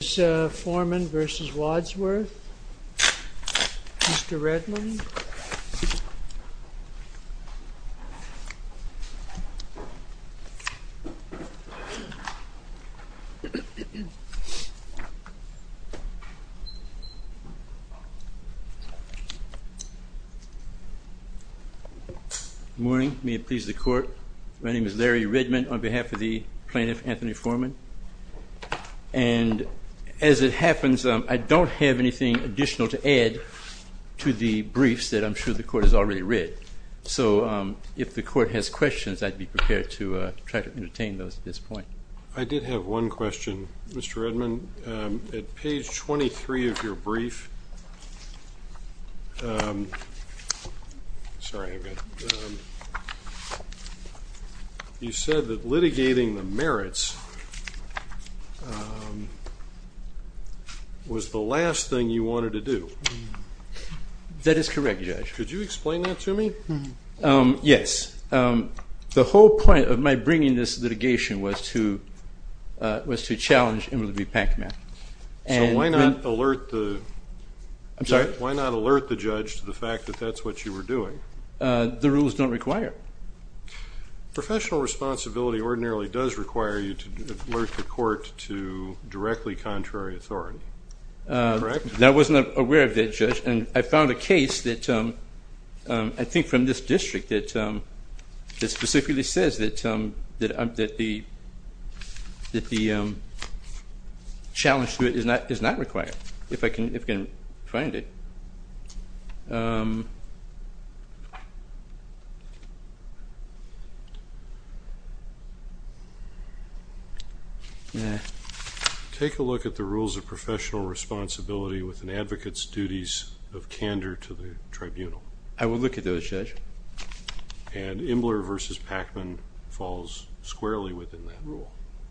Mr. Foreman v. Wadsworth, Mr. Redmond. Good morning. May it please the Court. My name is Larry Redmond on behalf of the plaintiff, Anthony Foreman. And as it happens, I don't have anything additional to add to the briefs that I'm sure the Court has already read. So if the Court has questions, I'd be prepared to try to entertain those at this point. I did have one question, Mr. Redmond. At page 23 of your brief, you said that litigating the merits was the last thing you wanted to do. That is correct, Judge. Could you explain that to me? Yes. The whole point of my bringing this litigation was to challenge Emily B. Packman. So why not alert the judge to the fact that that's what you were doing? The rules don't require it. Professional responsibility ordinarily does require you to alert the Court to directly contrary authority. Is that correct? I wasn't aware of that, Judge. And I found a case that I think from this district that specifically says that the challenge to it is not required, if I can find it. Take a look at the rules of professional responsibility with an advocate's duties of candor to the tribunal. I will look at those, Judge. And Imbler v. Packman falls squarely within that rule.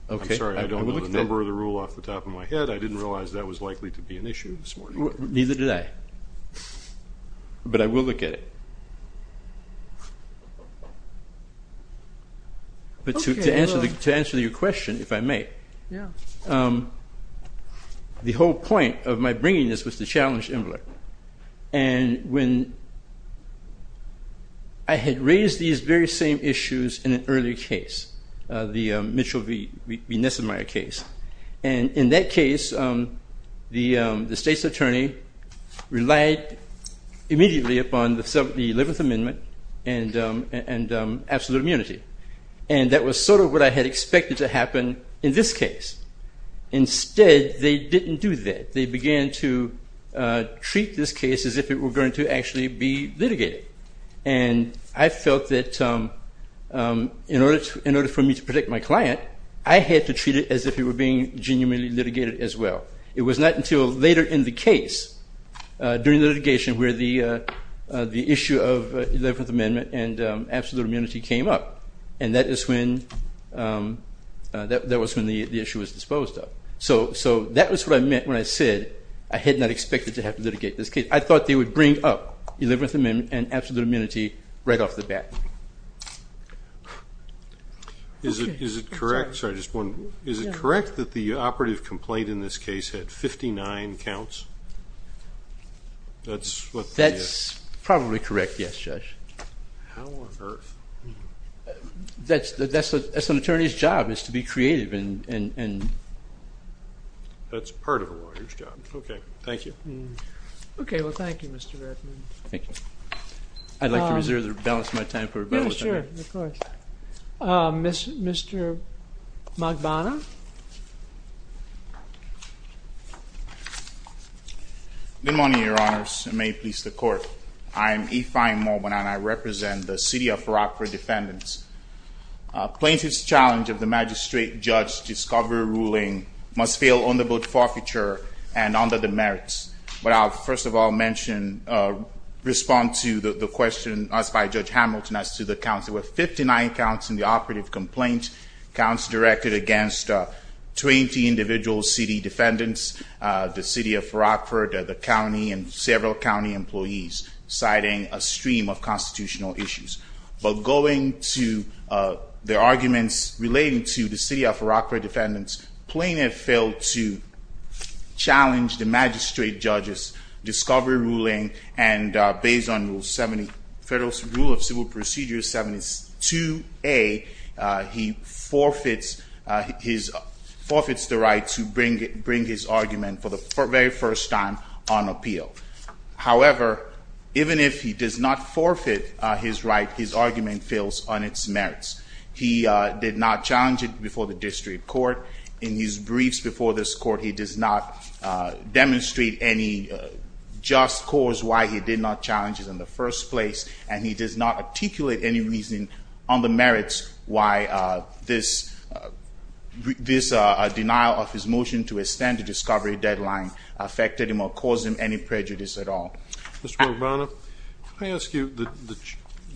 I'm sorry, I don't know the number of the rule off the top of my head. I didn't realize that was likely to be an issue this morning. Neither did I. But I will look at it. But to answer your question, if I may, the whole point of my bringing this was to challenge Imbler. And when I had raised these very same issues in an earlier case, the Mitchell v. Nessemeyer case, and in that case, the state's attorney relied immediately upon the 11th Amendment and absolute immunity. And that was sort of what I had expected to happen in this case. Instead, they didn't do that. They began to treat this case as if it were going to actually be litigated. And I felt that in order for me to protect my client, I had to treat it as if it were being genuinely litigated as well. It was not until later in the case, during the litigation, where the issue of 11th Amendment and absolute immunity came up. And that was when the issue was disposed of. So that was what I meant when I said I had not expected to have to litigate this case. I thought they would bring up 11th Amendment and absolute immunity right off the bat. Is it correct that the operative complaint in this case had 59 counts? That's probably correct, yes, Judge. How on earth? That's an attorney's job is to be creative. That's part of a lawyer's job. Okay, thank you. Okay, well, thank you, Mr. Redmond. Thank you. I'd like to reserve the balance of my time for rebuttal. Yeah, sure, of course. Mr. Magbana? Good morning, Your Honors, and may it please the Court. I am E. Fyne Magbana, and I represent the City of Farakka defendants. Plaintiff's challenge of the magistrate judge's discovery ruling must fail under both forfeiture and under the merits. But I'll, first of all, respond to the question asked by Judge Hamilton as to the counts. There were 59 counts in the operative complaint, counts directed against 20 individual city defendants, the City of Farakka, the county, and several county employees, citing a stream of constitutional issues. But going to the arguments relating to the City of Farakka defendants, plaintiff failed to challenge the magistrate judge's discovery ruling, and based on Rule of Civil Procedure 72A, he forfeits the right to bring his argument for the very first time on appeal. However, even if he does not forfeit his right, his argument fails on its merits. He did not challenge it before the district court. In his briefs before this court, he does not demonstrate any just cause why he did not challenge it in the first place, and he does not articulate any reason on the merits why this denial of his motion to extend the discovery deadline affected him or caused him any prejudice at all. Mr. Mogbrana, may I ask you,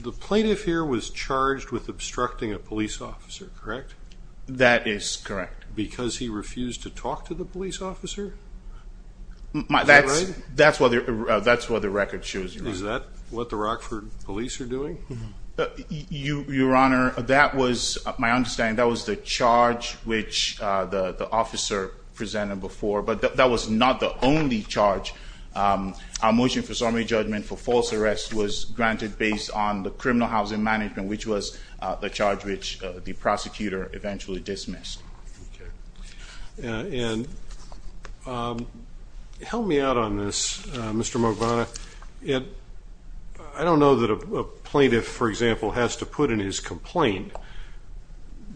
the plaintiff here was charged with obstructing a police officer, correct? That is correct. Because he refused to talk to the police officer? That's what the record shows. Is that what the Rockford police are doing? Your Honor, that was, my understanding, that was the charge which the officer presented before, but that was not the only charge. Our motion for summary judgment for false arrest was granted based on the criminal housing management, which was the charge which the prosecutor eventually dismissed. And help me out on this, Mr. Mogbrana. I don't know that a plaintiff, for example, has to put in his complaint,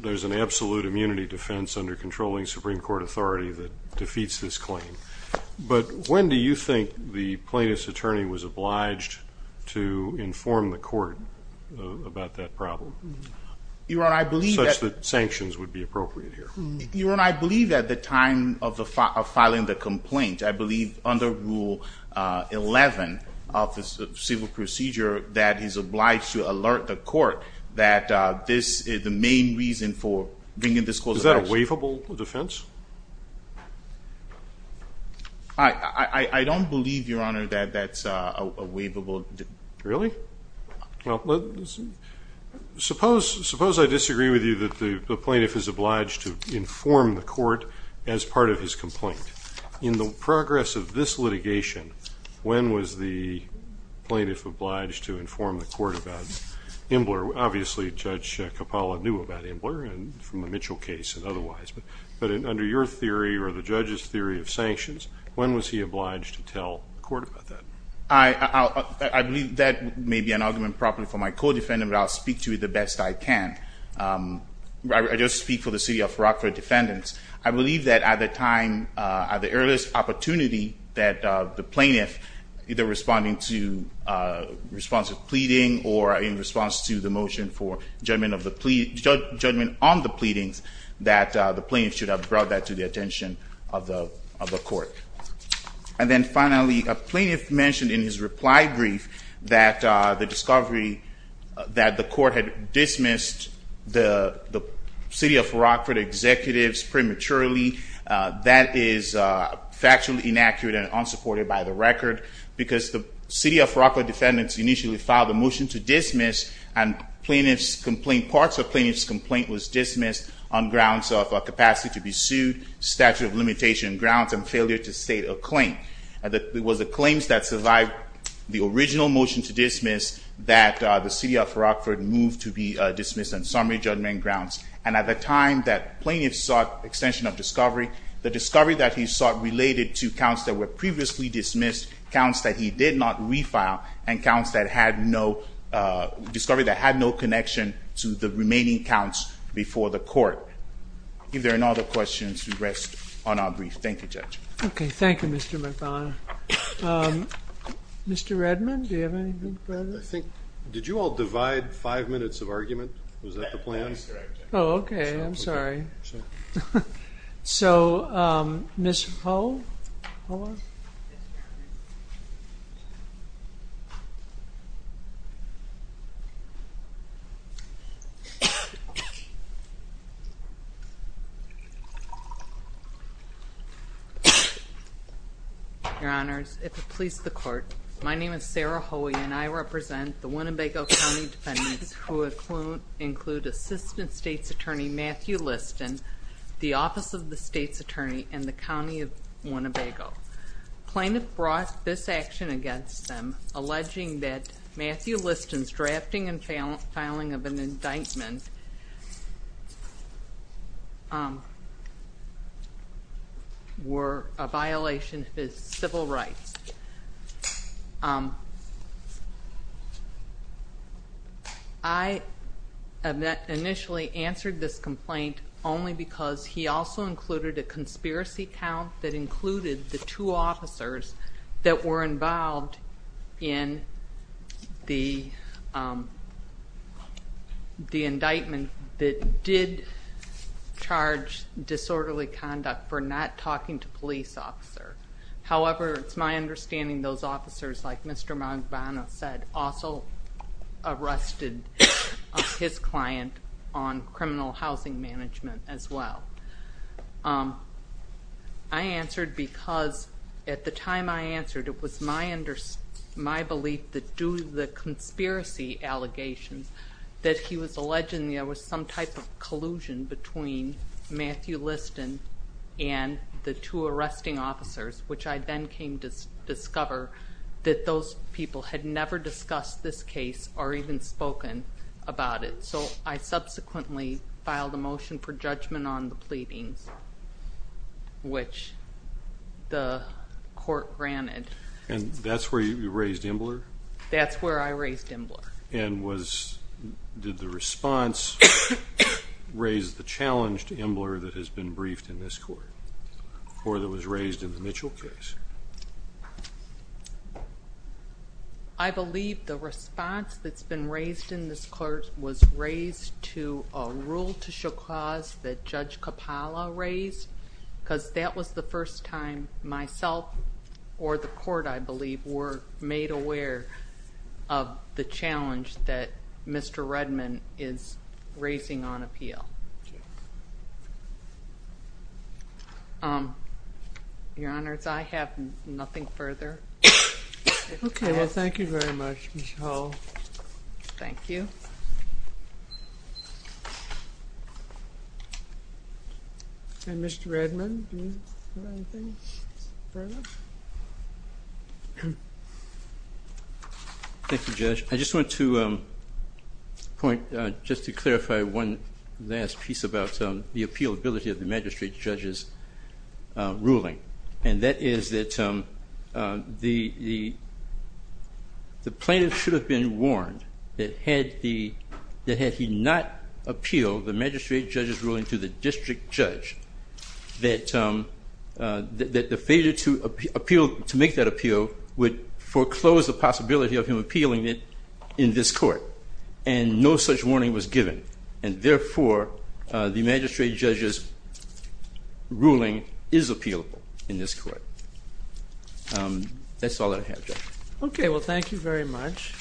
there's an absolute immunity defense under controlling Supreme Court authority that defeats this claim. But when do you think the plaintiff's attorney was obliged to inform the court about that problem, such that sanctions would be appropriate here? Your Honor, I believe at the time of filing the complaint. I believe under Rule 11 of the civil procedure that he's obliged to alert the court that this is the main reason for bringing this clause of action. Is that a waivable defense? I don't believe, Your Honor, that that's a waivable defense. Really? Well, suppose I disagree with you that the plaintiff is obliged to inform the court as part of his complaint. In the progress of this litigation, when was the plaintiff obliged to inform the court about Imbler? Obviously, Judge Kapala knew about Imbler from the Mitchell case and otherwise. But under your theory or the judge's theory of sanctions, when was he obliged to tell the court about that? I believe that may be an argument probably for my co-defendant, but I'll speak to it the best I can. I just speak for the city of Rockford defendants. I believe that at the time, at the earliest opportunity that the plaintiff, either responding to responsive pleading or in response to the motion for judgment on the pleadings, that the plaintiff should have brought that to the attention of the court. And then finally, a plaintiff mentioned in his reply brief that the discovery that the court had dismissed the city of Rockford executives prematurely, that is factually inaccurate and unsupported by the record, because the city of Rockford defendants initially filed a motion to dismiss, and parts of the plaintiff's complaint was dismissed on grounds of capacity to be sued, statute of limitation grounds, and failure to state a claim. It was the claims that survived the original motion to dismiss that the city of Rockford moved to be dismissed on summary judgment grounds, and at the time that plaintiff sought extension of discovery, the discovery that he sought related to counts that were previously dismissed, counts that he did not refile, and counts that had no, discovery that had no connection to the remaining counts before the court. If there are no other questions, we rest on our brief. Thank you, Judge. Okay, thank you, Mr. McDonough. Mr. Redmond, do you have anything? I think, did you all divide five minutes of argument? Was that the plan? That is correct. Oh, okay. I'm sorry. So, Ms. Ho? Your Honors, if it please the court, my name is Sarah Hoey, and I represent the Winnebago County defendants who include Assistant State's Attorney Matthew Liston, the Office of the State's Attorney, and the County of Winnebago. The plaintiff brought this action against them, alleging that Matthew Liston's drafting and filing of an indictment were a violation of his civil rights. I initially answered this complaint only because he also included a conspiracy count that included the two officers that were involved in the indictment that did charge disorderly conduct for not talking to a police officer. However, it's my understanding those officers, like Mr. McDonough said, also arrested his client on criminal housing management as well. I answered because at the time I answered, it was my belief that due to the conspiracy allegations, that he was alleging there was some type of collusion between Matthew Liston and the two arresting officers, which I then came to discover that those people had never discussed this case or even spoken about it. So, I subsequently filed a motion for judgment on the pleadings, which the court granted. And that's where you raised Imbler? That's where I raised Imbler. And did the response raise the challenge to Imbler that has been briefed in this court, or that was raised in the Mitchell case? I believe the response that's been raised in this court was raised to a rule to show cause that Judge Capala raised, because that was the first time myself or the court, I believe, were made aware of the challenge that Mr. Redman is raising on appeal. Your Honors, I have nothing further. Okay. Well, thank you very much, Ms. Howell. Thank you. And Mr. Redman, do you have anything further? Thank you, Judge. I just want to point just to clarify one last piece about the appealability of the magistrate judge's ruling, and that is that the plaintiff should have been warned that had he not appealed the magistrate judge's ruling to the district judge, that the failure to make that appeal would foreclose the possibility of him appealing it in this court. And no such warning was given, and therefore the magistrate judge's ruling is appealable in this court. That's all that I have, Judge. Okay. Well, thank you very much.